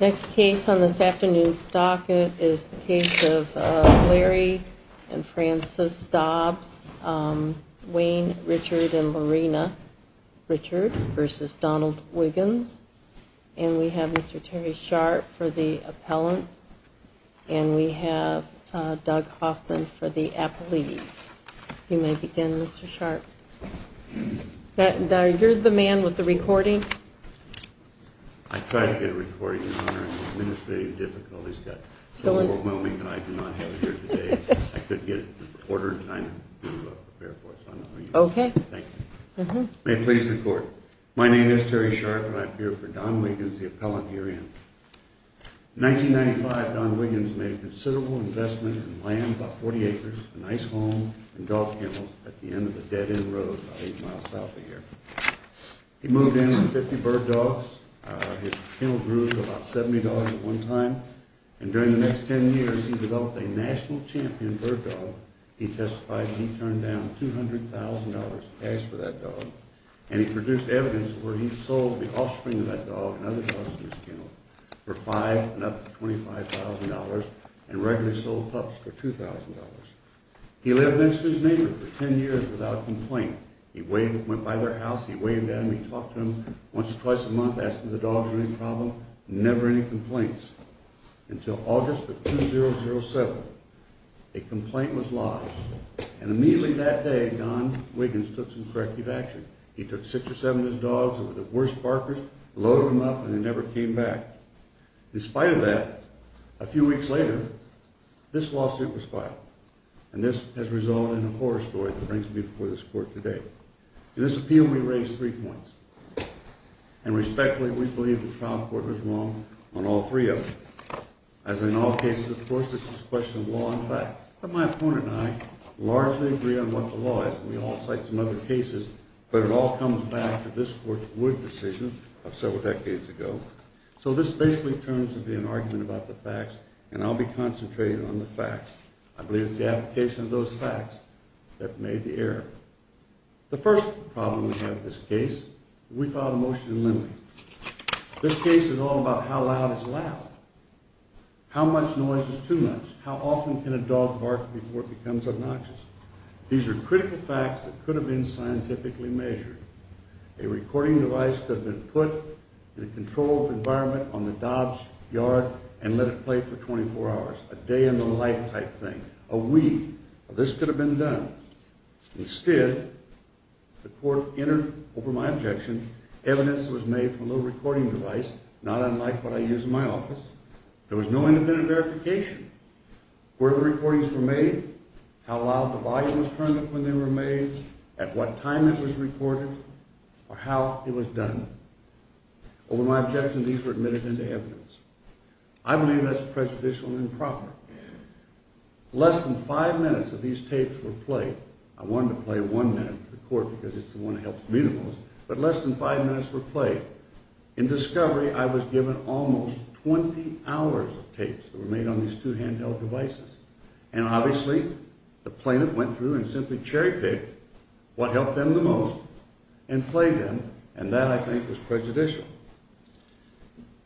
Next case on this afternoon's docket is the case of Larry and Frances Dobbs, Wayne Richard and Lorena Richard v. Donald Wiggins. And we have Mr. Terry Sharp for the appellant. And we have Doug Hoffman for the appellate. You may begin, Mr. Sharp. And you're the man with the recording. I tried to get a recording in honor of the administrative difficulties that are so overwhelming that I do not have it here today. I couldn't get it in a quarter of time to prepare for it, so I'm not going to use it. Thank you. You may please record. My name is Terry Sharp and I appear for Don Wiggins, the appellant herein. In 1995, Don Wiggins made a considerable investment in land, about 40 acres, a nice home and dog kennels at the end of a dead-end road about 8 miles south of here. He moved in with 50 bird dogs. His kennel grew to about 70 dogs at one time. And during the next 10 years, he developed a national champion bird dog. He testified that he turned down $200,000 in cash for that dog. And he produced evidence where he sold the offspring of that dog and other dogs in his kennel for $5,000 and up to $25,000 and regularly sold pups for $2,000. He lived next to his neighbor for 10 years without complaint. He went by their house, he waved at them, he talked to them once or twice a month, asked them if the dogs were any problem. Never any complaints until August of 2007. A complaint was lodged and immediately that day, Don Wiggins took some corrective action. He took six or seven of his dogs that were the worst barkers, loaded them up and they never came back. In spite of that, a few weeks later, this lawsuit was filed. And this has resulted in a horror story that brings me before this court today. In this appeal, we raise three points. And respectfully, we believe the trial court was wrong on all three of them. As in all cases, of course, this is a question of law and fact. But my opponent and I largely agree on what the law is. We all cite some other cases, but it all comes back to this court's Wood decision of several decades ago. So this basically turns to be an argument about the facts, and I'll be concentrated on the facts. I believe it's the application of those facts that made the error. The first problem we have with this case, we filed a motion in limine. This case is all about how loud is loud. How much noise is too much? How often can a dog bark before it becomes obnoxious? These are critical facts that could have been scientifically measured. A recording device could have been put in a controlled environment on the dog's yard and let it play for 24 hours. A day in the life type thing. A week. This could have been done. Instead, the court entered, over my objection, evidence that was made from a little recording device, not unlike what I use in my office. There was no independent verification. Where the recordings were made, how loud the volume was turned up when they were made, at what time it was recorded, or how it was done. Over my objection, these were admitted into evidence. I believe that's prejudicial and improper. Less than five minutes of these tapes were played. I wanted to play one minute for the court because it's the one that helps me the most. But less than five minutes were played. In discovery, I was given almost 20 hours of tapes that were made on these two handheld devices. And obviously, the plaintiff went through and simply cherry-picked what helped them the most and played them. And that, I think, was prejudicial.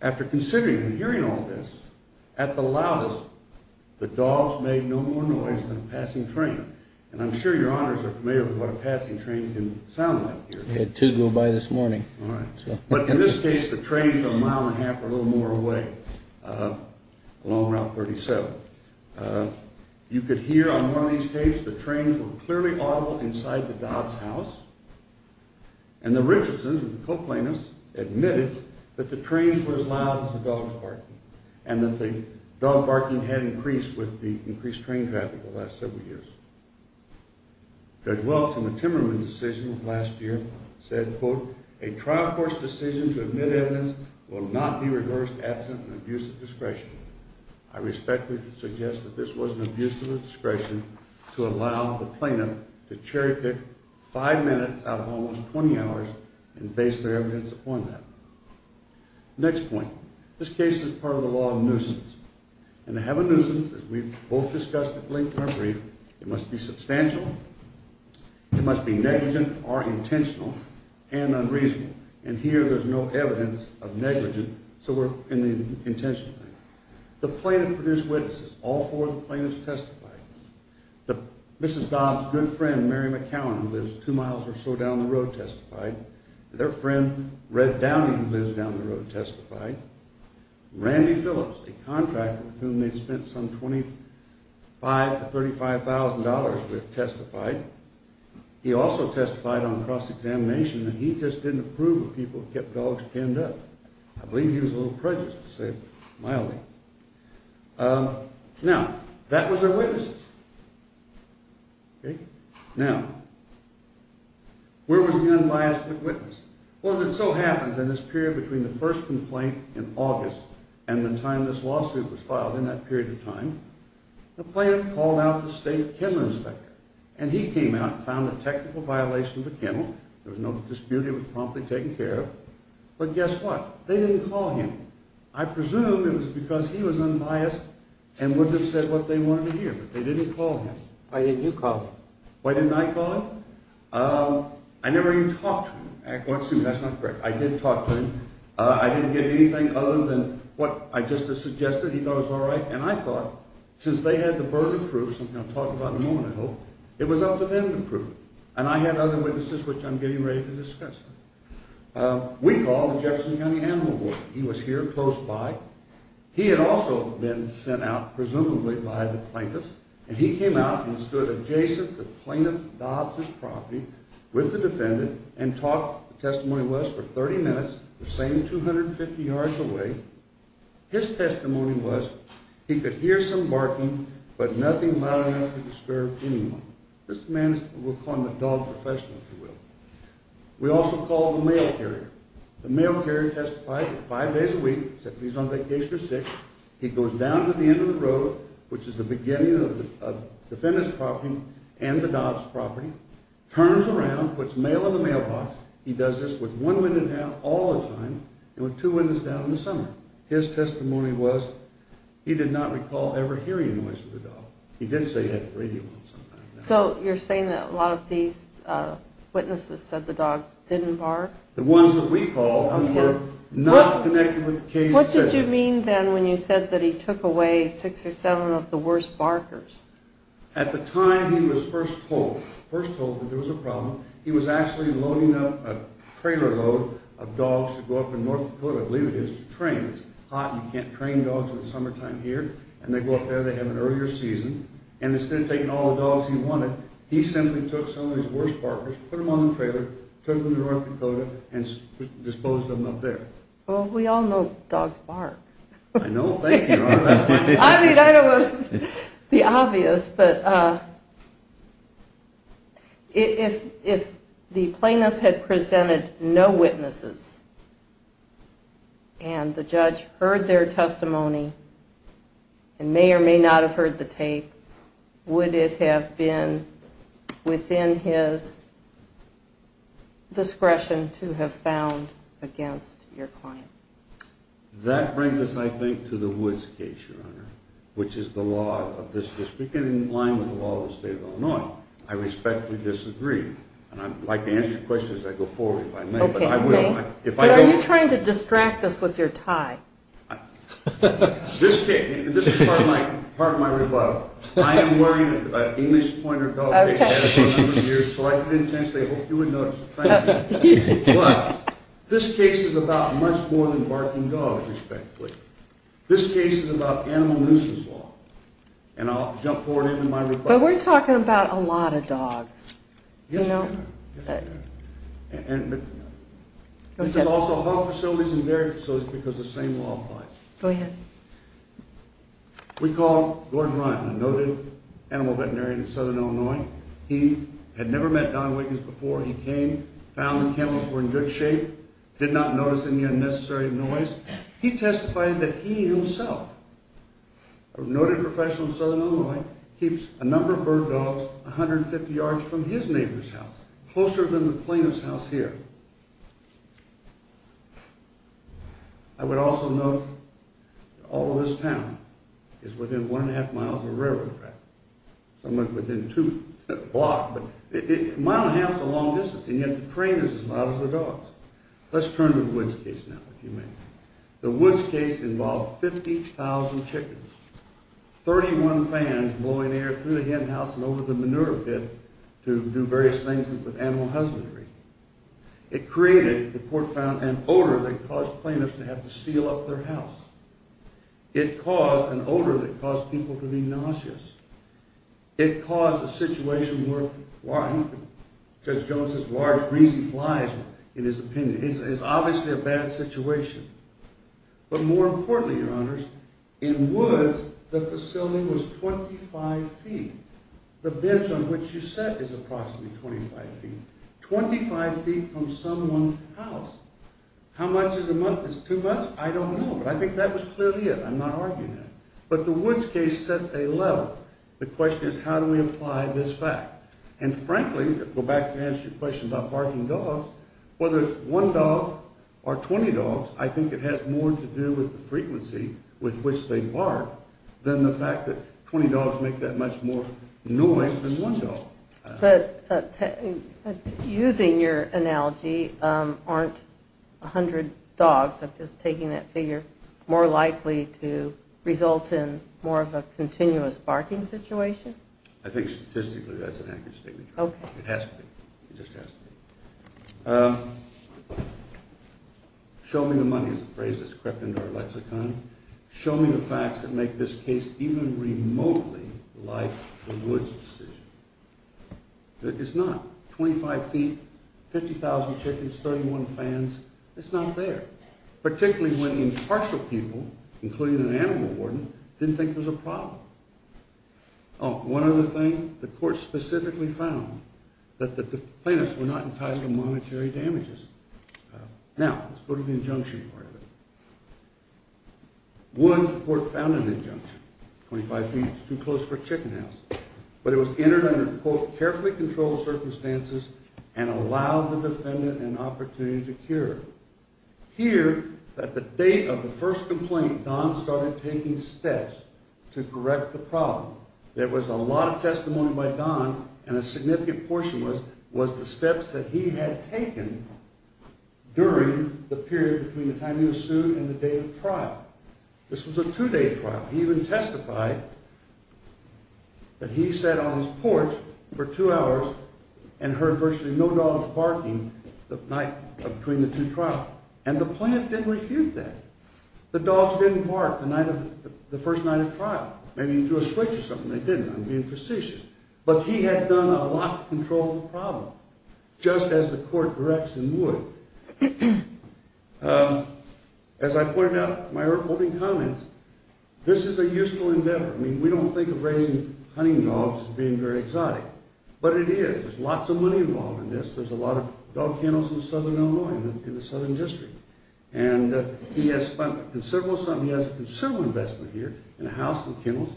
After considering and hearing all this, at the loudest, the dogs made no more noise than a passing train. And I'm sure your honors are familiar with what a passing train can sound like here. We had two go by this morning. But in this case, the trains are a mile and a half or a little more away along Route 37. You could hear on one of these tapes the trains were clearly audible inside the dog's house. And the Richardsons, the co-plaintiffs, admitted that the trains were as loud as the dogs barking and that the dog barking had increased with the increased train traffic the last several years. Judge Welch, in the Timmerman decision of last year, said, quote, A trial court's decision to admit evidence will not be reversed absent an abuse of discretion. I respectfully suggest that this was an abuse of discretion to allow the plaintiff to cherry-pick five minutes out of almost 20 hours and base their evidence upon that. Next point. This case is part of the law of nuisance. And to have a nuisance, as we've both discussed at length in our brief, it must be substantial. It must be negligent or intentional and unreasonable. And here, there's no evidence of negligence, so we're in the intentional thing. The plaintiff produced witnesses. All four of the plaintiffs testified. Mrs. Dobbs' good friend, Mary McCowan, who lives two miles or so down the road, testified. Their friend, Red Downey, who lives down the road, testified. Randy Phillips, a contractor with whom they'd spent some $25,000 to $35,000, testified. He also testified on cross-examination that he just didn't approve of people who kept dogs pinned up. I believe he was a little prejudiced, to say it mildly. Now, that was their witnesses. Now, where was the unbiased witness? Well, as it so happens, in this period between the first complaint in August and the time this lawsuit was filed, in that period of time, the plaintiff called out the state kennel inspector. And he came out and found a technical violation of the kennel. There was no dispute. It was promptly taken care of. But guess what? They didn't call him. I presume it was because he was unbiased and wouldn't have said what they wanted to hear. But they didn't call him. Why didn't you call him? Why didn't I call him? I never even talked to him. That's not correct. I did talk to him. I didn't get anything other than what I just had suggested. He thought it was all right. And I thought, since they had the burden of proof, something I'll talk about in a moment, I hope, it was up to them to prove it. And I had other witnesses, which I'm getting ready to discuss. We called the Jefferson County Animal Board. He was here, close by. He had also been sent out, presumably, by the plaintiff. And he came out and stood adjacent to the plaintiff's property with the defendant and talked, the testimony was, for 30 minutes, the same 250 yards away. His testimony was, he could hear some barking, but nothing loud enough to disturb anyone. This man, we'll call him the dog professional, if you will. We also called the mail carrier. The mail carrier testified that five days a week, except if he's on vacation or sick, he goes down to the end of the road, which is the beginning of the defendant's property and the dog's property, turns around, puts mail in the mailbox. He does this with one window down all the time and with two windows down in the summer. His testimony was, he did not recall ever hearing a noise of the dog. He did say he had the radio on sometimes. So you're saying that a lot of these witnesses said the dogs didn't bark? The ones that we called were not connected with the case. What did you mean then when you said that he took away six or seven of the worst barkers? At the time, he was first told. First told that there was a problem. He was actually loading up a trailer load of dogs to go up in North Dakota, I believe it is, to train. It's hot and you can't train dogs in the summertime here. And they go up there, they have an earlier season. And instead of taking all the dogs he wanted, he simply took some of his worst barkers, put them on the trailer, took them to North Dakota, and disposed of them up there. Well, we all know dogs bark. I know. Thank you. I mean, I don't want to be obvious, but if the plaintiff had presented no witnesses and the judge heard their testimony and may or may not have heard the tape, would it have been within his discretion to have found against your client? That brings us, I think, to the Woods case, Your Honor, which is the law of this district in line with the law of the state of Illinois. I respectfully disagree. And I'd like to answer your question as I go forward if I may. But are you trying to distract us with your tie? This is part of my rebuttal. I am wearing an English Pointer dog case. I've had it for a number of years, so I put it intensely. I hope you would notice. Thank you. Well, this case is about much more than barking dogs, respectfully. This case is about animal nuisance law. And I'll jump forward into my rebuttal. But we're talking about a lot of dogs. And this is also hog facilities and dairy facilities because the same law applies. Go ahead. We called Gordon Ryan, a noted animal veterinarian in southern Illinois. He had never met Don Wiggins before. He came, found the camels were in good shape, did not notice any unnecessary noise. He testified that he himself, a noted professional in southern Illinois, keeps a number of bird dogs 150 yards from his neighbor's house, closer than the plaintiff's house here. I would also note that all of this town is within one and a half miles of a railroad track. Somewhat within two blocks, but a mile and a half is a long distance. And yet the train is as loud as the dogs. Let's turn to the Woods case now, if you may. The Woods case involved 50,000 chickens. 31 fans blowing air through the hen house and over the manure pit to do various things with animal husbandry. It created, the court found, an odor that caused plaintiffs to have to seal up their house. It caused an odor that caused people to be nauseous. It caused a situation where, Judge Jones says, large, greasy flies in his opinion. It's obviously a bad situation. But more importantly, your honors, in Woods, the facility was 25 feet. The bench on which you sit is approximately 25 feet. 25 feet from someone's house. How much is a month? Is it too much? I don't know. But I think that was clearly it. I'm not arguing that. But the Woods case sets a level. The question is, how do we apply this fact? And frankly, to go back and answer your question about barking dogs, whether it's one dog or 20 dogs, I think it has more to do with the frequency with which they bark than the fact that 20 dogs make that much more noise than one dog. But using your analogy, aren't 100 dogs, I'm just taking that figure, more likely to result in more of a continuous barking situation? I think statistically that's an accurate statement. Okay. It has to be. It just has to be. Show me the money is a phrase that's crept into our lexicon. Show me the facts that make this case even remotely like the Woods decision. It's not. 25 feet, 50,000 chickens, 31 fans, it's not there. Particularly when the impartial people, including an animal warden, didn't think there was a problem. Oh, one other thing. The court specifically found that the plaintiffs were not entitled to monetary damages. Now, let's go to the injunction part of it. Woods, the court found an injunction. 25 feet is too close for a chicken house. But it was entered under, quote, carefully controlled circumstances and allowed the defendant an opportunity to cure. Here, at the date of the first complaint, Don started taking steps to correct the problem. There was a lot of testimony by Don, and a significant portion was the steps that he had taken during the period between the time he was sued and the day of trial. This was a two-day trial. He even testified that he sat on his porch for two hours and heard virtually no dogs barking the night between the two trials. And the plaintiff didn't refute that. The dogs didn't bark the first night of trial. Maybe he threw a switch or something. They didn't. I'm being facetious. But he had done a lot to control the problem, just as the court direction would. As I pointed out in my opening comments, this is a useful endeavor. I mean, we don't think of raising hunting dogs as being very exotic. But it is. There's lots of money involved in this. There's a lot of dog kennels in southern Illinois, in the southern district. And he has spent several, he has a considerable investment here in a house and kennels.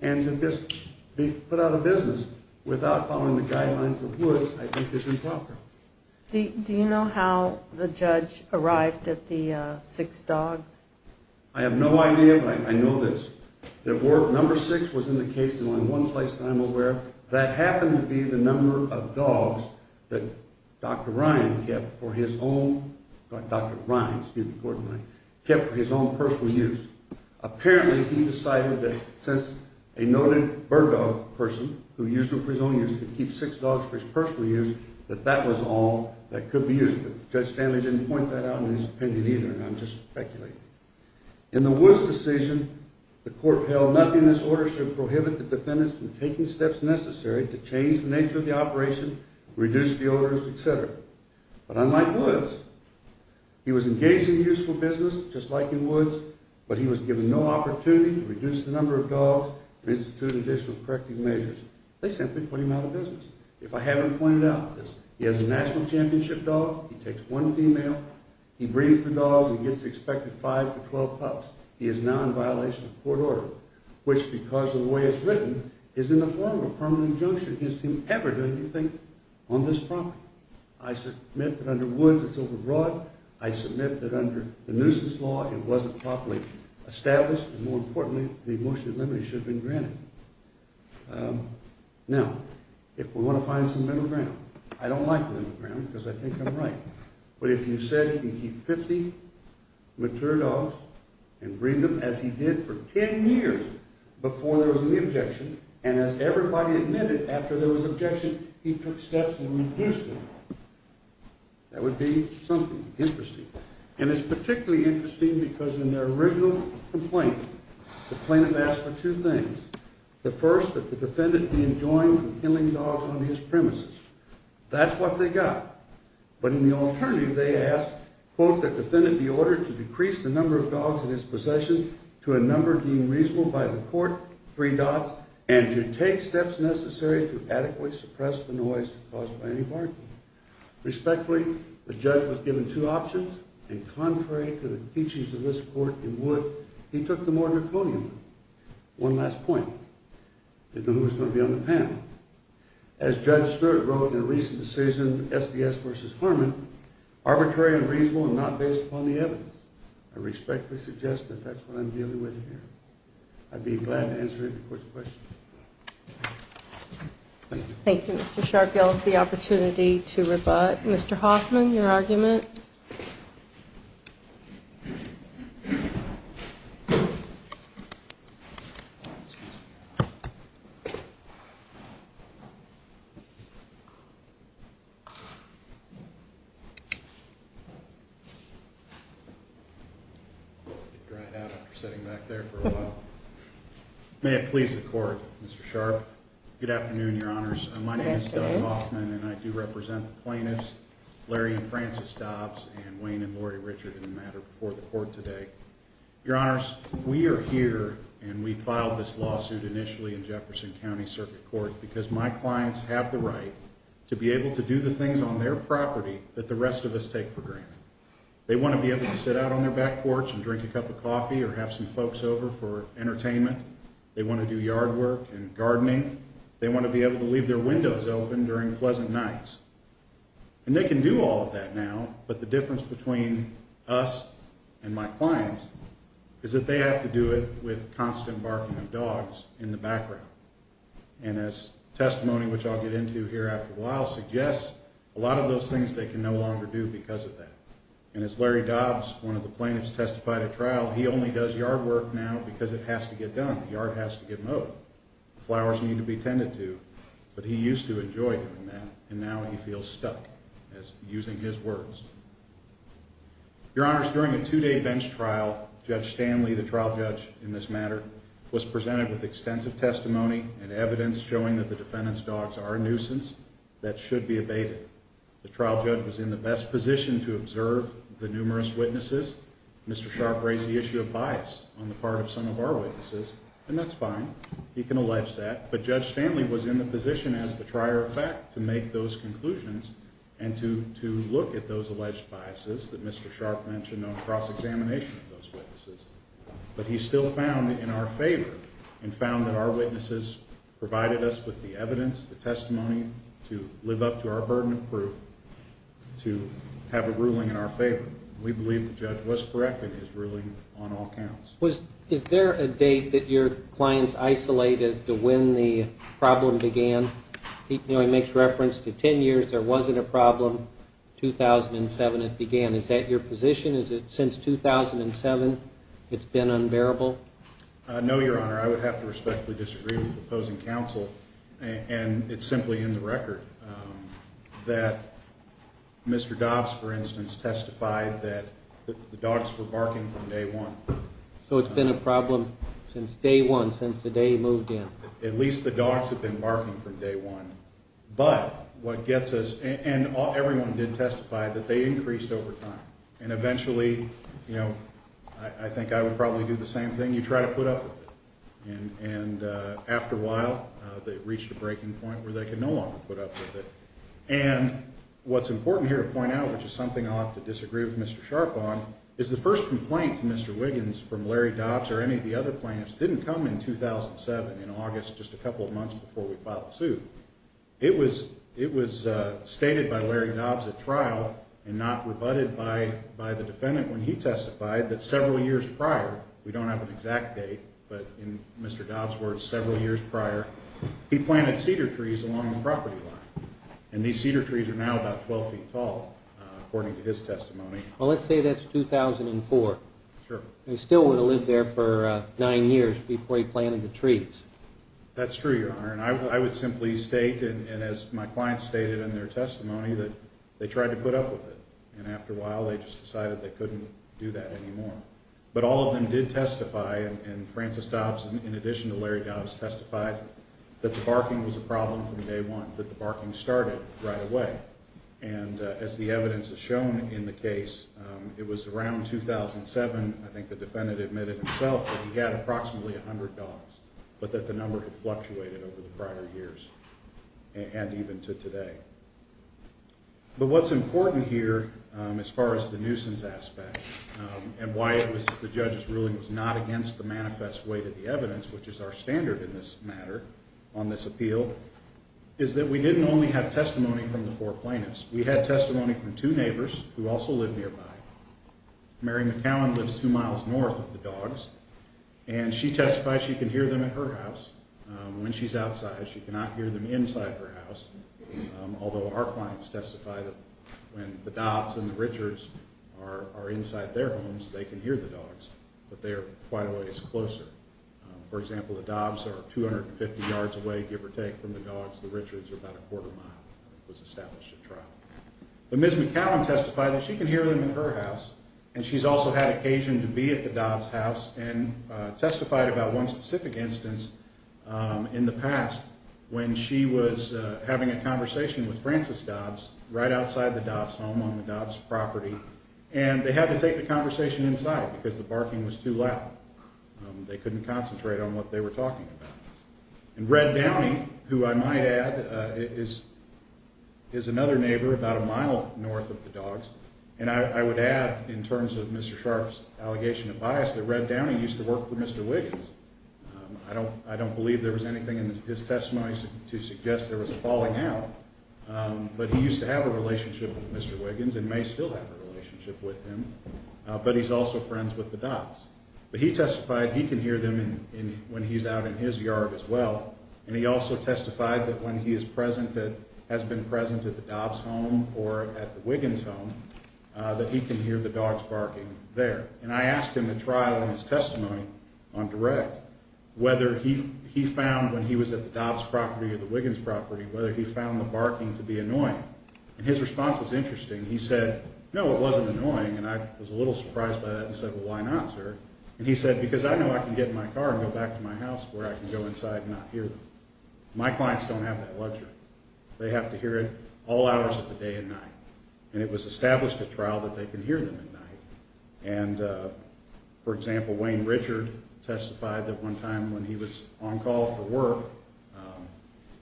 And to just be put out of business without following the guidelines of Woods, I think, is improper. Do you know how the judge arrived at the six dogs? I have no idea, but I know this. Number six was in the case, and in one place that I'm aware of, that happened to be the number of dogs that Dr. Ryan kept for his own personal use. Apparently, he decided that since a noted bird dog person who used them for his own use could keep six dogs for his personal use, that that was all that could be used. But Judge Stanley didn't point that out in his opinion either, and I'm just speculating. In the Woods decision, the court held nothing in this order should prohibit the defendants from taking steps necessary to change the nature of the operation, reduce the odors, et cetera. But unlike Woods, he was engaged in useful business, just like in Woods, but he was given no opportunity to reduce the number of dogs, or institute additional corrective measures. They simply put him out of business. If I haven't pointed out this, he has a national championship dog. He takes one female, he breeds the dogs, and gets the expected five to 12 pups. He is now in violation of court order, which, because of the way it's written, is in the form of a permanent juncture against him ever doing anything on this property. I submit that under Woods, it's overbroad. I submit that under the nuisance law, it wasn't properly established, and more importantly, the emotional limits should have been granted. Now, if we want to find some middle ground, I don't like middle ground because I think I'm right, but if you said you can keep 50 mature dogs and breed them as he did for 10 years before there was an objection, and as everybody admitted after there was objection, he took steps and reduced them, that would be something interesting. And it's particularly interesting because in their original complaint, the plaintiff asked for two things. The first, that the defendant be enjoined from killing dogs on his premises. That's what they got. But in the alternative, they asked, quote, that the defendant be ordered to decrease the number of dogs in his possession to a number deemed reasonable by the court, three dogs, and to take steps necessary to adequately suppress the noise caused by any barking. Respectfully, the judge was given two options, and contrary to the teachings of this court in Woods, he took the more draconian one. One last point. I didn't know who was going to be on the panel. As Judge Stewart wrote in a recent decision, SBS v. Herman, arbitrary and reasonable and not based upon the evidence. I respectfully suggest that that's what I'm dealing with here. I'd be glad to answer any court's questions. Thank you. Thank you, Mr. Sharfield. The opportunity to rebut. Mr. Hoffman, your argument? May it please the court, Mr. Sharf. Good afternoon, Your Honors. My name is Doug Hoffman, and I do represent the plaintiffs, Larry and Francis Dobbs, and Wayne and Lori Richard in the matter before the court today. Your Honors, we are here, and we filed this lawsuit initially in Jefferson County Circuit Court because my clients have the right to be able to do the things on their property that the rest of us take for granted. They want to be able to sit out on their back porch and drink a cup of coffee or have some folks over for entertainment. They want to do yard work and gardening. They want to be able to leave their windows open during pleasant nights. And they can do all of that now, but the difference between us and my clients is that they have to do it with constant barking of dogs in the background. And as testimony, which I'll get into here after a while, suggests, a lot of those things they can no longer do because of that. And as Larry Dobbs, one of the plaintiffs, testified at trial, he only does yard work now because it has to get done. The yard has to get mowed. The flowers need to be tended to. But he used to enjoy doing that, and now he feels stuck using his words. Your Honors, during a two-day bench trial, Judge Stanley, the trial judge in this matter, was presented with extensive testimony and evidence showing that the defendant's dogs are a nuisance that should be abated. The trial judge was in the best position to observe the numerous witnesses. Mr. Sharp raised the issue of bias on the part of some of our witnesses, and that's fine. He can allege that. But Judge Stanley was in the position, as the trier of fact, to make those conclusions and to look at those alleged biases that Mr. Sharp mentioned on cross-examination of those witnesses. But he still found in our favor and found that our witnesses provided us with the evidence, the testimony, to live up to our burden of proof to have a ruling in our favor. We believe the judge was correct in his ruling on all counts. Is there a date that your clients isolate as to when the problem began? He makes reference to 10 years there wasn't a problem, 2007 it began. Is that your position? Is it since 2007 it's been unbearable? No, Your Honor. I would have to respectfully disagree with the opposing counsel, and it's simply in the record that Mr. Dobbs, for instance, testified that the dogs were barking from day one. So it's been a problem since day one, since the day he moved in? At least the dogs have been barking from day one. But what gets us, and everyone did testify, that they increased over time, and eventually, you know, I think I would probably do the same thing, you try to put up with it. And after a while, they've reached a breaking point where they can no longer put up with it. And what's important here to point out, which is something I'll have to disagree with Mr. Sharpe on, is the first complaint to Mr. Wiggins from Larry Dobbs or any of the other plaintiffs didn't come in 2007, in August, just a couple of months before we filed the suit. It was stated by Larry Dobbs at trial and not rebutted by the defendant when he testified that several years prior, we don't have an exact date, but in Mr. Dobbs' words, several years prior, he planted cedar trees along the property line. And these cedar trees are now about 12 feet tall, according to his testimony. Well, let's say that's 2004. Sure. He still would have lived there for nine years before he planted the trees. That's true, Your Honor. And I would simply state, and as my client stated in their testimony, that they tried to put up with it. And after a while, they just decided they couldn't do that anymore. But all of them did testify, and Francis Dobbs, in addition to Larry Dobbs, testified that the barking was a problem from day one, that the barking started right away. And as the evidence has shown in the case, it was around 2007, I think the defendant admitted himself, that he had approximately 100 dogs. But that the number had fluctuated over the prior years, and even to today. But what's important here, as far as the nuisance aspect, and why the judge's ruling was not against the manifest weight of the evidence, which is our standard in this matter, on this appeal, is that we didn't only have testimony from the four plaintiffs. We had testimony from two neighbors who also live nearby. Mary McCowan lives two miles north of the dogs, and she testified she can hear them at her house. When she's outside, she cannot hear them inside her house, although our clients testify that when the Dobbs and the Richards are inside their homes, they can hear the dogs, but they are quite a ways closer. For example, the Dobbs are 250 yards away, give or take, from the dogs. The Richards are about a quarter mile. It was established at trial. But Ms. McCowan testified that she can hear them at her house, and she's also had occasion to be at the Dobbs' house and testified about one specific instance in the past when she was having a conversation with Francis Dobbs right outside the Dobbs' home on the Dobbs' property, and they had to take the conversation inside because the barking was too loud. They couldn't concentrate on what they were talking about. And Red Downey, who I might add, is another neighbor about a mile north of the dogs, and I would add in terms of Mr. Sharp's allegation of bias that Red Downey used to work for Mr. Wiggins. I don't believe there was anything in his testimony to suggest there was a falling out, but he used to have a relationship with Mr. Wiggins and may still have a relationship with him, but he's also friends with the Dobbs. But he testified he can hear them when he's out in his yard as well, and he also testified that when he is present that has been present at the Dobbs' home or at the Wiggins' home, that he can hear the dogs barking there. And I asked him at trial in his testimony on direct whether he found when he was at the Dobbs' property or the Wiggins' property, whether he found the barking to be annoying. And his response was interesting. He said, no, it wasn't annoying, and I was a little surprised by that and said, well, why not, sir? And he said, because I know I can get in my car and go back to my house where I can go inside and not hear them. My clients don't have that luxury. They have to hear it all hours of the day and night, and it was established at trial that they can hear them at night. And, for example, Wayne Richard testified that one time when he was on call for work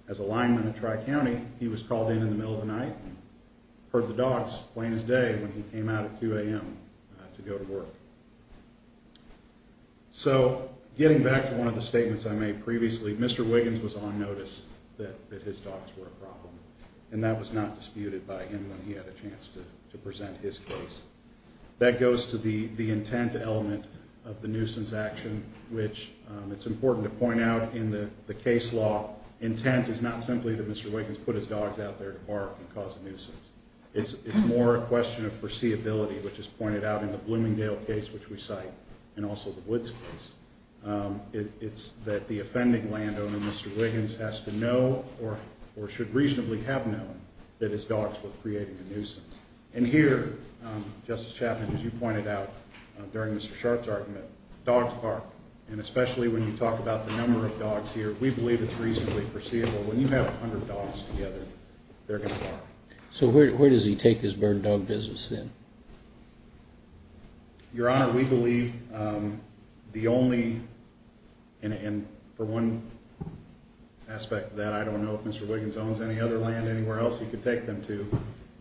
as a lineman at Tri-County, he was called in in the middle of the night and heard the dogs playing his day when he came out at 2 a.m. to go to work. So getting back to one of the statements I made previously, Mr. Wiggins was on notice that his dogs were a problem, and that was not disputed by him when he had a chance to present his case. That goes to the intent element of the nuisance action, which it's important to point out in the case law, intent is not simply that Mr. Wiggins put his dogs out there to bark and cause a nuisance. It's more a question of foreseeability, which is pointed out in the Bloomingdale case, which we cite, and also the Woods case. It's that the offending landowner, Mr. Wiggins, has to know, or should reasonably have known, that his dogs were creating a nuisance. And here, Justice Chapman, as you pointed out during Mr. Sharpe's argument, dogs bark, and especially when you talk about the number of dogs here, we believe it's reasonably foreseeable. When you have 100 dogs together, they're going to bark. So where does he take his bird dog business then? Your Honor, we believe the only, and for one aspect of that, I don't know if Mr. Wiggins owns any other land anywhere else he could take them to,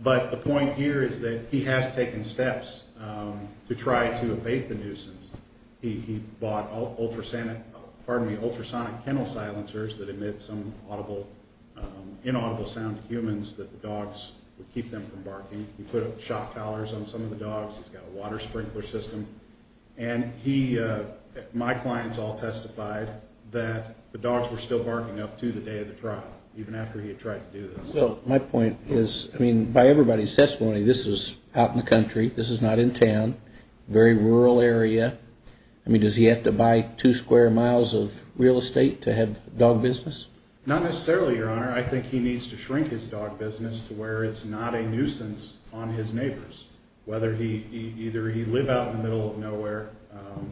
but the point here is that he has taken steps to try to abate the nuisance. He bought ultrasonic kennel silencers that emit some inaudible sound to humans that the dogs would keep them from barking. He put shock towers on some of the dogs. He's got a water sprinkler system. And my clients all testified that the dogs were still barking up to the day of the trial, even after he had tried to do this. Well, my point is, I mean, by everybody's testimony, this is out in the country. This is not in town. Very rural area. I mean, does he have to buy two square miles of real estate to have dog business? Not necessarily, Your Honor. I think he needs to shrink his dog business to where it's not a nuisance on his neighbors. Either he live out in the middle of nowhere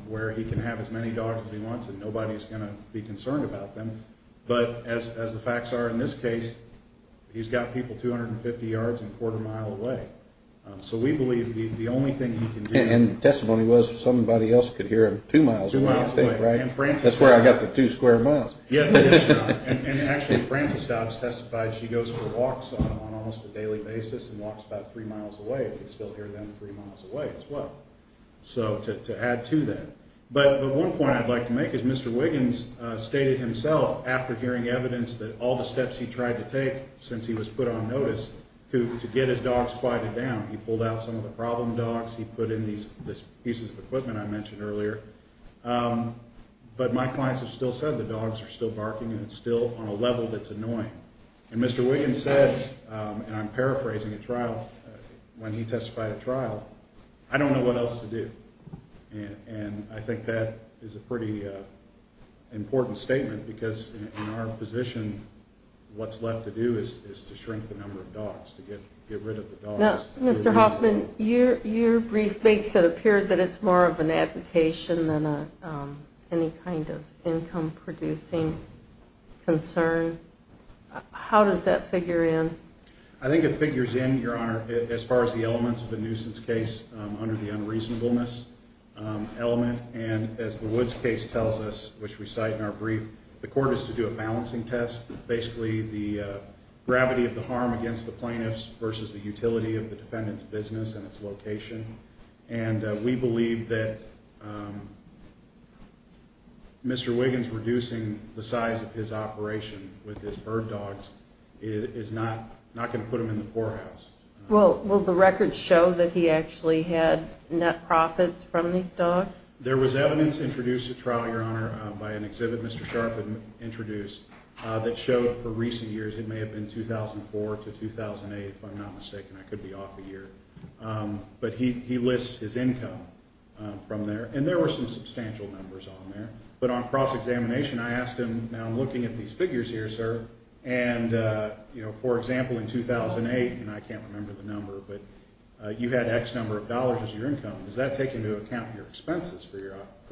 where he can have as many dogs as he wants and nobody is going to be concerned about them. But as the facts are in this case, he's got people 250 yards and a quarter mile away. So we believe the only thing he can do. And the testimony was somebody else could hear him two miles away. That's where I got the two square miles. Yes, Your Honor. And actually, Frances Dobbs testified she goes for walks on almost a daily basis and walks about three miles away and could still hear them three miles away as well. So to add to that. But one point I'd like to make is Mr. Wiggins stated himself, after hearing evidence that all the steps he tried to take since he was put on notice to get his dogs quieted down, he pulled out some of the problem dogs, he put in these pieces of equipment I mentioned earlier. But my clients have still said the dogs are still barking and it's still on a level that's annoying. And Mr. Wiggins said, and I'm paraphrasing a trial when he testified at trial, I don't know what else to do. And I think that is a pretty important statement because in our position, what's left to do is to shrink the number of dogs, to get rid of the dogs. Now, Mr. Hoffman, your brief makes it appear that it's more of an advocation than any kind of income-producing concern. How does that figure in? I think it figures in, Your Honor, as far as the elements of the nuisance case under the unreasonableness element. And as the Woods case tells us, which we cite in our brief, the court is to do a balancing test. Basically, the gravity of the harm against the plaintiffs versus the utility of the defendant's business and its location. And we believe that Mr. Wiggins reducing the size of his operation with his bird dogs is not going to put him in the poorhouse. Will the records show that he actually had net profits from these dogs? There was evidence introduced at trial, Your Honor, by an exhibit Mr. Sharpe had introduced that showed for recent years, it may have been 2004 to 2008, if I'm not mistaken. I could be off a year. But he lists his income from there, and there were some substantial numbers on there. But on cross-examination, I asked him, now I'm looking at these figures here, sir, and, you know, for example, in 2008, and I can't remember the number, but you had X number of dollars as your income. Does that take into account your expenses for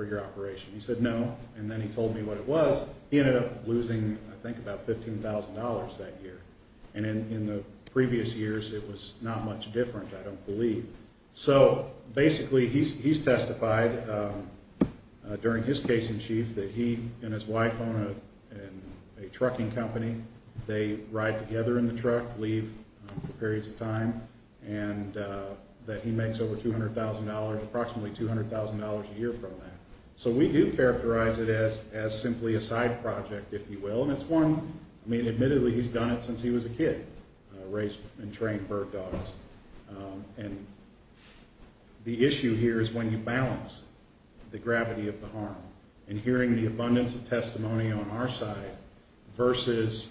your operation? He said no, and then he told me what it was. He ended up losing, I think, about $15,000 that year. And in the previous years, it was not much different, I don't believe. So basically he's testified during his case in chief that he and his wife own a trucking company. They ride together in the truck, leave for periods of time, and that he makes over $200,000, approximately $200,000 a year from that. So we do characterize it as simply a side project, if you will. And it's one, I mean, admittedly, he's done it since he was a kid, raised and trained bird dogs. And the issue here is when you balance the gravity of the harm and hearing the abundance of testimony on our side versus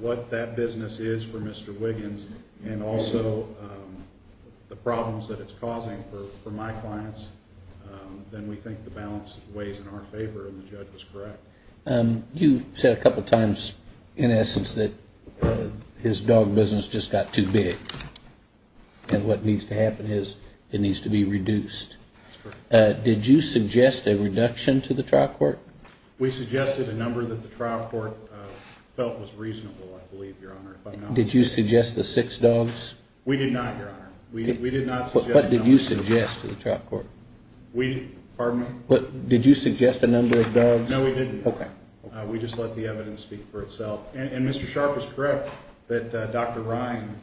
what that business is for Mr. Wiggins and also the problems that it's causing for my clients, then we think the balance weighs in our favor and the judge was correct. You said a couple of times, in essence, that his dog business just got too big and what needs to happen is it needs to be reduced. That's correct. Did you suggest a reduction to the trial court? We suggested a number that the trial court felt was reasonable, I believe, Your Honor. Did you suggest the six dogs? We did not, Your Honor. We did not suggest a number. What did you suggest to the trial court? Pardon me? Did you suggest a number of dogs? No, we didn't. Okay. We just let the evidence speak for itself. And Mr. Sharp is correct that Dr. Ryan,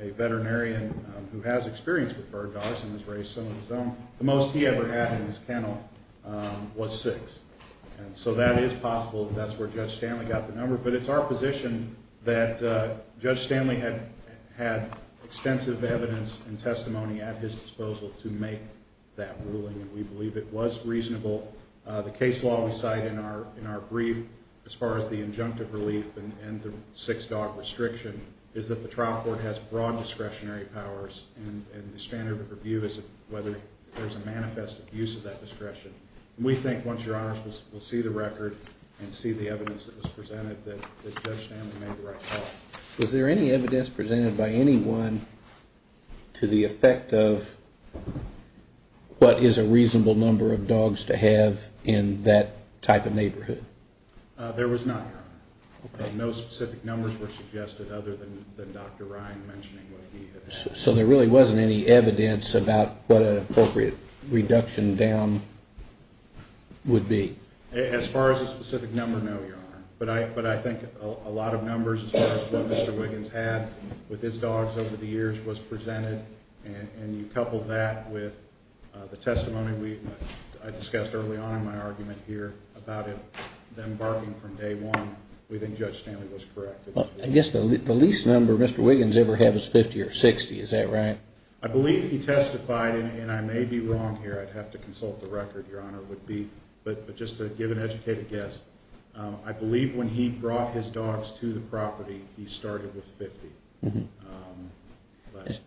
a veterinarian who has experience with bird dogs and has raised some of his own, the most he ever had in his kennel was six. And so that is possible, that's where Judge Stanley got the number. But it's our position that Judge Stanley had extensive evidence and testimony at his disposal to make that ruling, and we believe it was reasonable. The case law we cite in our brief, as far as the injunctive relief and the six dog restriction, is that the trial court has broad discretionary powers and the standard of review is whether there's a manifest abuse of that discretion. We think once Your Honor will see the record and see the evidence that was presented that Judge Stanley made the right call. Was there any evidence presented by anyone to the effect of what is a reasonable number of dogs to have in that type of neighborhood? There was not, Your Honor. No specific numbers were suggested other than Dr. Ryan mentioning what he had. So there really wasn't any evidence about what an appropriate reduction down would be? As far as a specific number, no, Your Honor. But I think a lot of numbers as far as what Mr. Wiggins had with his dogs over the years was presented, and you couple that with the testimony I discussed early on in my argument here about them barking from day one, we think Judge Stanley was correct. I guess the least number Mr. Wiggins ever had was 50 or 60, is that right? I believe he testified, and I may be wrong here, I'd have to consult the record, Your Honor, but just to give an educated guess, I believe when he brought his dogs to the property he started with 50. It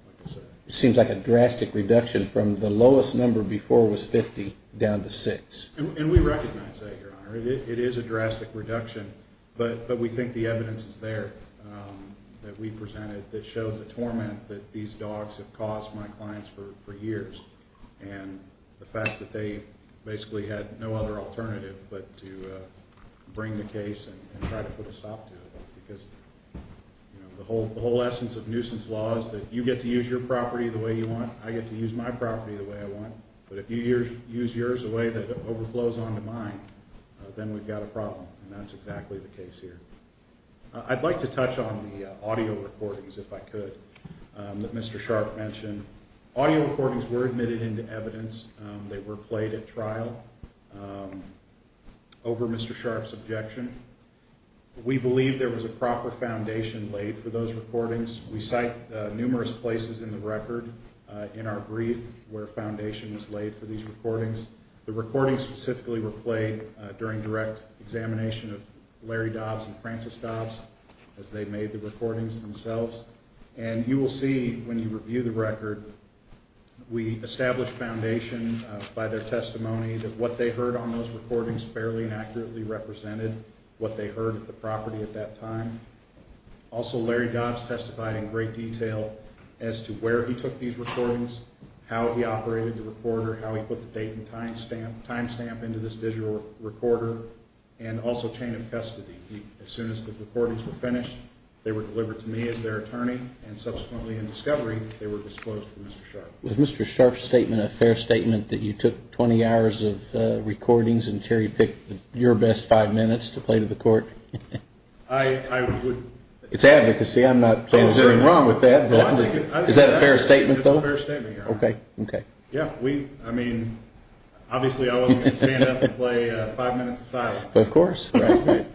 seems like a drastic reduction from the lowest number before was 50 down to 6. And we recognize that, Your Honor. It is a drastic reduction, but we think the evidence is there that we presented that shows the torment that these dogs have caused my clients for years, and the fact that they basically had no other alternative but to bring the case and try to put a stop to it because the whole essence of nuisance law is that you get to use your property the way you want, I get to use my property the way I want, but if you use yours the way that overflows onto mine, then we've got a problem, and that's exactly the case here. I'd like to touch on the audio recordings, if I could, that Mr. Sharp mentioned. Audio recordings were admitted into evidence. They were played at trial over Mr. Sharp's objection. We believe there was a proper foundation laid for those recordings. We cite numerous places in the record in our brief where a foundation was laid for these recordings. The recordings specifically were played during direct examination of Larry Dobbs and Francis Dobbs as they made the recordings themselves, and you will see when you review the record, we established foundation by their testimony that what they heard on those recordings fairly and accurately represented what they heard at the property at that time. Also, Larry Dobbs testified in great detail as to where he took these recordings, how he operated the recorder, how he put the date and time stamp into this digital recorder, and also chain of custody. As soon as the recordings were finished, they were delivered to me as their attorney, and subsequently in discovery, they were disclosed to Mr. Sharp. Was Mr. Sharp's statement a fair statement that you took 20 hours of recordings and cherry-picked your best five minutes to play to the court? It's advocacy. I'm not saying there's anything wrong with that. Is that a fair statement, though? It's a fair statement, Your Honor. Okay. Okay. Yeah, we, I mean, obviously I wasn't going to stand up and play five minutes of silence. Of course. That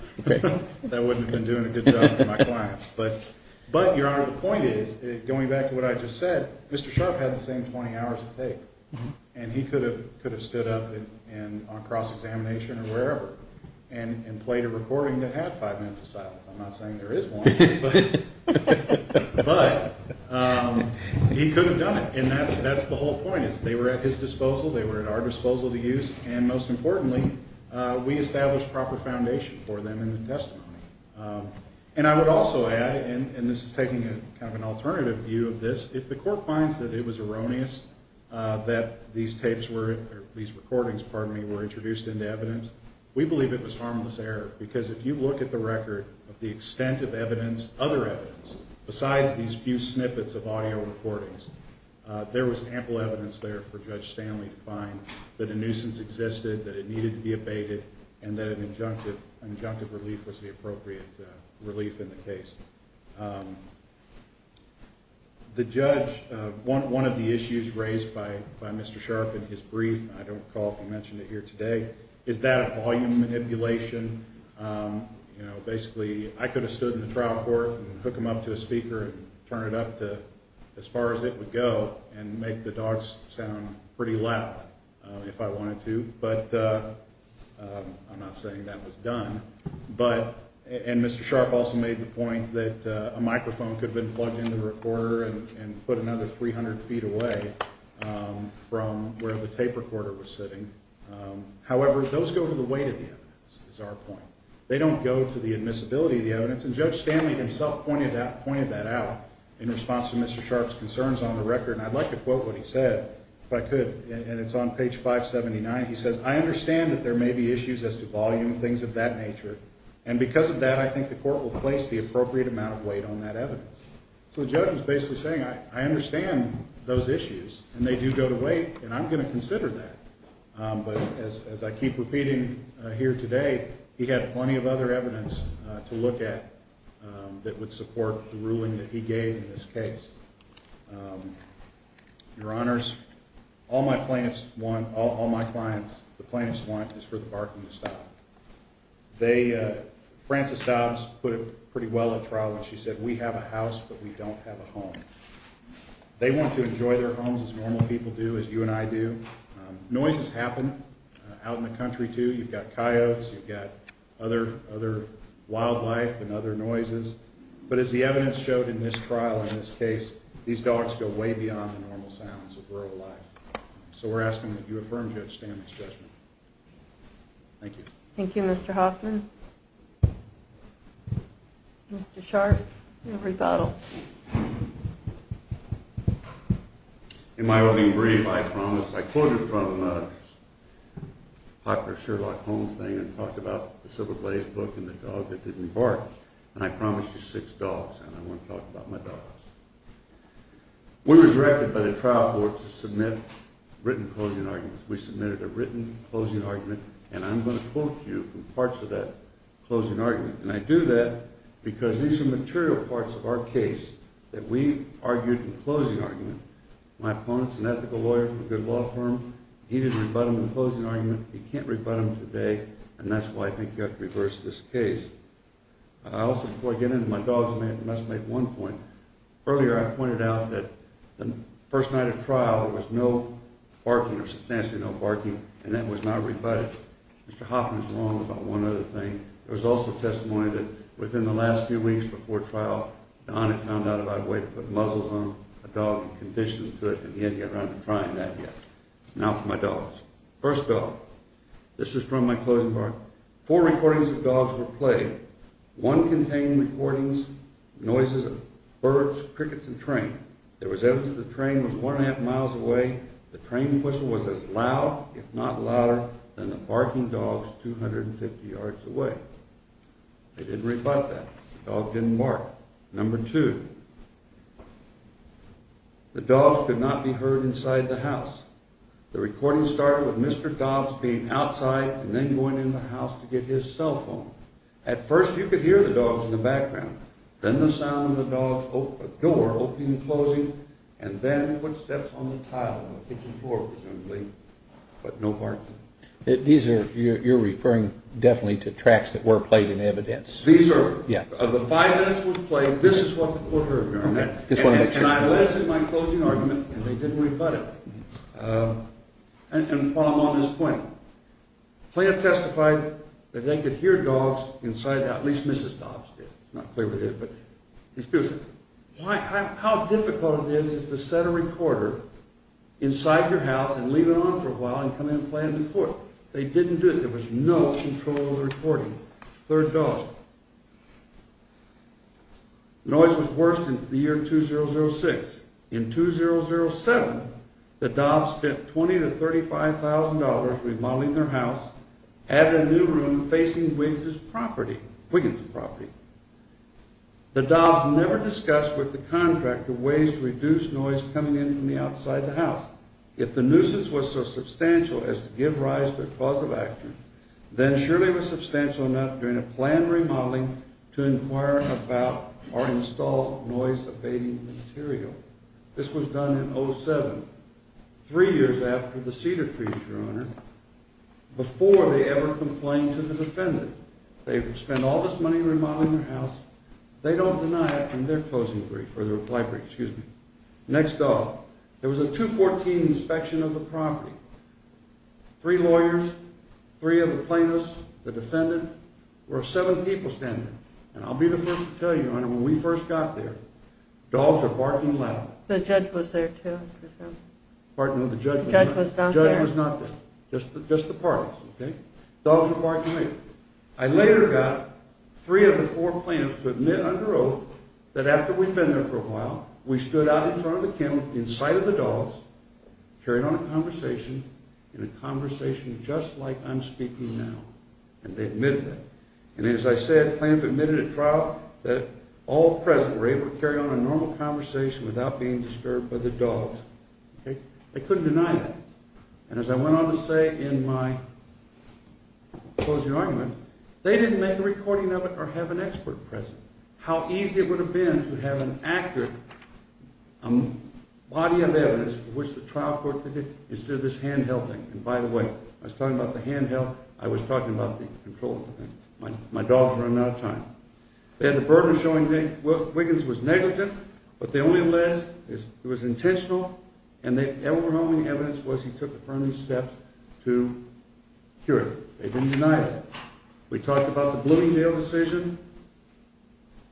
wouldn't have been doing a good job for my clients. But, Your Honor, the point is, going back to what I just said, Mr. Sharp had the same 20 hours to take, and he could have stood up on cross-examination or wherever and played a recording that had five minutes of silence. I'm not saying there is one, but he could have done it, and that's the whole point. They were at his disposal, they were at our disposal to use, and most importantly, we established proper foundation for them in the testimony. And I would also add, and this is taking kind of an alternative view of this, if the court finds that it was erroneous that these tapes were, or these recordings, pardon me, were introduced into evidence, we believe it was harmless error. Because if you look at the record, the extent of evidence, other evidence, besides these few snippets of audio recordings, there was ample evidence there for Judge Stanley to find that a nuisance existed, that it needed to be abated, and that an injunctive relief was the appropriate relief in the case. The judge, one of the issues raised by Mr. Sharpe in his brief, and I don't recall if he mentioned it here today, is that volume manipulation. Basically, I could have stood in the trial court and hook him up to a speaker and turn it up to as far as it would go and make the dogs sound pretty loud if I wanted to, but I'm not saying that was done. And Mr. Sharpe also made the point that a microphone could have been plugged into the recorder and put another 300 feet away from where the tape recorder was sitting. However, those go to the weight of the evidence, is our point. They don't go to the admissibility of the evidence, and Judge Stanley himself pointed that out in response to Mr. Sharpe's concerns on the record. And I'd like to quote what he said, if I could, and it's on page 579. He says, I understand that there may be issues as to volume, things of that nature, and because of that, I think the court will place the appropriate amount of weight on that evidence. So the judge was basically saying, I understand those issues, and they do go to weight, and I'm going to consider that. But as I keep repeating here today, he had plenty of other evidence to look at that would support the ruling that he gave in this case. Your Honors, all my clients, the plaintiffs want is for the barking to stop. Frances Dobbs put it pretty well at trial when she said, we have a house, but we don't have a home. They want to enjoy their homes as normal people do, as you and I do. Noises happen out in the country too. You've got coyotes, you've got other wildlife and other noises. But as the evidence showed in this trial, in this case, these dogs go way beyond the normal sounds of rural life. So we're asking that you affirm, Judge Stanton, this judgment. Thank you. Thank you, Mr. Hoffman. Mr. Sharp, your rebuttal. In my opening brief, I promised, I quoted from a popular Sherlock Holmes thing and talked about the Silver Blaze book and the dog that didn't bark. And I promised you six dogs, and I want to talk about my dogs. We were directed by the trial board to submit written closing arguments. We submitted a written closing argument, and I'm going to quote you from parts of that closing argument. And I do that because there's some material parts of our case that we argued in closing argument. My opponents and ethical lawyers from a good law firm needed to rebut them in closing argument. You can't rebut them today, and that's why I think you have to reverse this case. Also, before I get into my dogs, I must make one point. Earlier I pointed out that the first night of trial, there was no barking or substantially no barking, and that was not rebutted. Mr. Hoffman is wrong about one other thing. There was also testimony that within the last few weeks before trial, Don had found out about a way to put muzzles on a dog and condition it to it, Now for my dogs. First dog. This is from my closing argument. Four recordings of dogs were played. One contained recordings, noises of birds, crickets, and train. There was evidence that the train was one and a half miles away. The train whistle was as loud, if not louder, than the barking dogs 250 yards away. They didn't rebut that. The dog didn't bark. Number two. The dogs could not be heard inside the house. The recording started with Mr. Dobbs being outside and then going in the house to get his cell phone. At first you could hear the dogs in the background, then the sound of the dogs' door opening and closing, and then footsteps on the tile of the kitchen floor presumably, but no barking. These are, you're referring definitely to tracks that were played in evidence. These are. Yeah. Of the five minutes that were played, this is what the court heard during that. And I listened to my closing argument and they didn't rebut it. And while I'm on this point, plaintiffs testified that they could hear dogs inside the house. At least Mrs. Dobbs did. It's not clear whether they did, but these people said, how difficult it is to set a recorder inside your house and leave it on for a while and come in and play in the court. They didn't do it. There was no control of the recording. Third dog. Noise was worse in the year 2006. In 2007, the Dobbs spent $20,000 to $35,000 remodeling their house, added a new room facing Wiggins' property. The Dobbs never discussed with the contractor ways to reduce noise coming in from the outside of the house. If the nuisance was so substantial as to give rise to a cause of action, then surely it was substantial enough during a planned remodeling to inquire about or install noise-abating material. This was done in 2007, three years after the cedar trees, Your Honor, before they ever complained to the defendant. They would spend all this money remodeling their house. They don't deny it in their closing brief, or their reply brief, excuse me. Next dog. There was a 214 inspection of the property. Three lawyers, three of the plaintiffs, the defendant, were seven people standing. And I'll be the first to tell you, Your Honor, when we first got there, dogs were barking loud. The judge was there too, I presume. Pardon me, the judge was not there. The judge was not there. The judge was not there. Just the parties, okay? Dogs were barking loud. I later got three of the four plaintiffs to admit under oath that after we'd been there for a while, we stood out in front of the kennel in sight of the dogs, carried on a conversation, and a conversation just like I'm speaking now. And they admitted that. And as I said, the plaintiffs admitted at trial that all present were able to carry on a normal conversation without being disturbed by the dogs. They couldn't deny that. And as I went on to say in my closing argument, they didn't make a recording of it or have an expert present. How easy it would have been to have an accurate body of evidence for which the trial court could consider this hand-held thing. And by the way, I was talking about the hand-held. I was talking about the control thing. My dogs were running out of time. They had the burden of showing Wiggins was negligent, but they only alleged it was intentional, and the overwhelming evidence was he took affirmative steps to cure him. They didn't deny that. We talked about the Bloomingdale decision.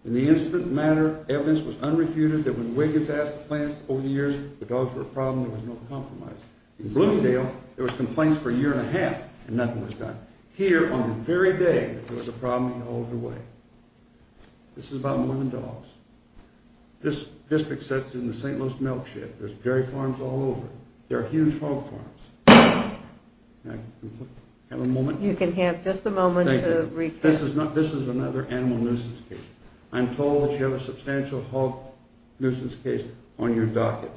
In the incident matter, evidence was unrefuted that when Wiggins asked the plaintiffs over the years if the dogs were a problem, there was no compromise. In Bloomingdale, there was complaints for a year and a half, and nothing was done. Here, on the very day, there was a problem all the way. This is about moving dogs. This district sits in the St. Louis milk shed. There's dairy farms all over. There are huge hog farms. Can I have a moment? You can have just a moment to recap. This is another animal nuisance case. I'm told that you have a substantial hog nuisance case on your docket.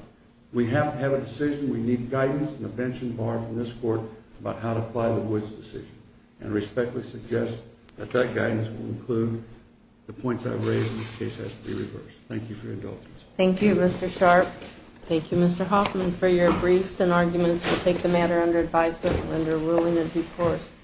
We have to have a decision. We need guidance and a bench and bar from this court about how to apply the Woods decision and respectfully suggest that that guidance will include the points I've raised, and this case has to be reversed. Thank you for your indulgence. Thank you, Mr. Sharp. Thank you, Mr. Hoffman, for your briefs and arguments. We'll take the matter under advisement and under ruling of due course.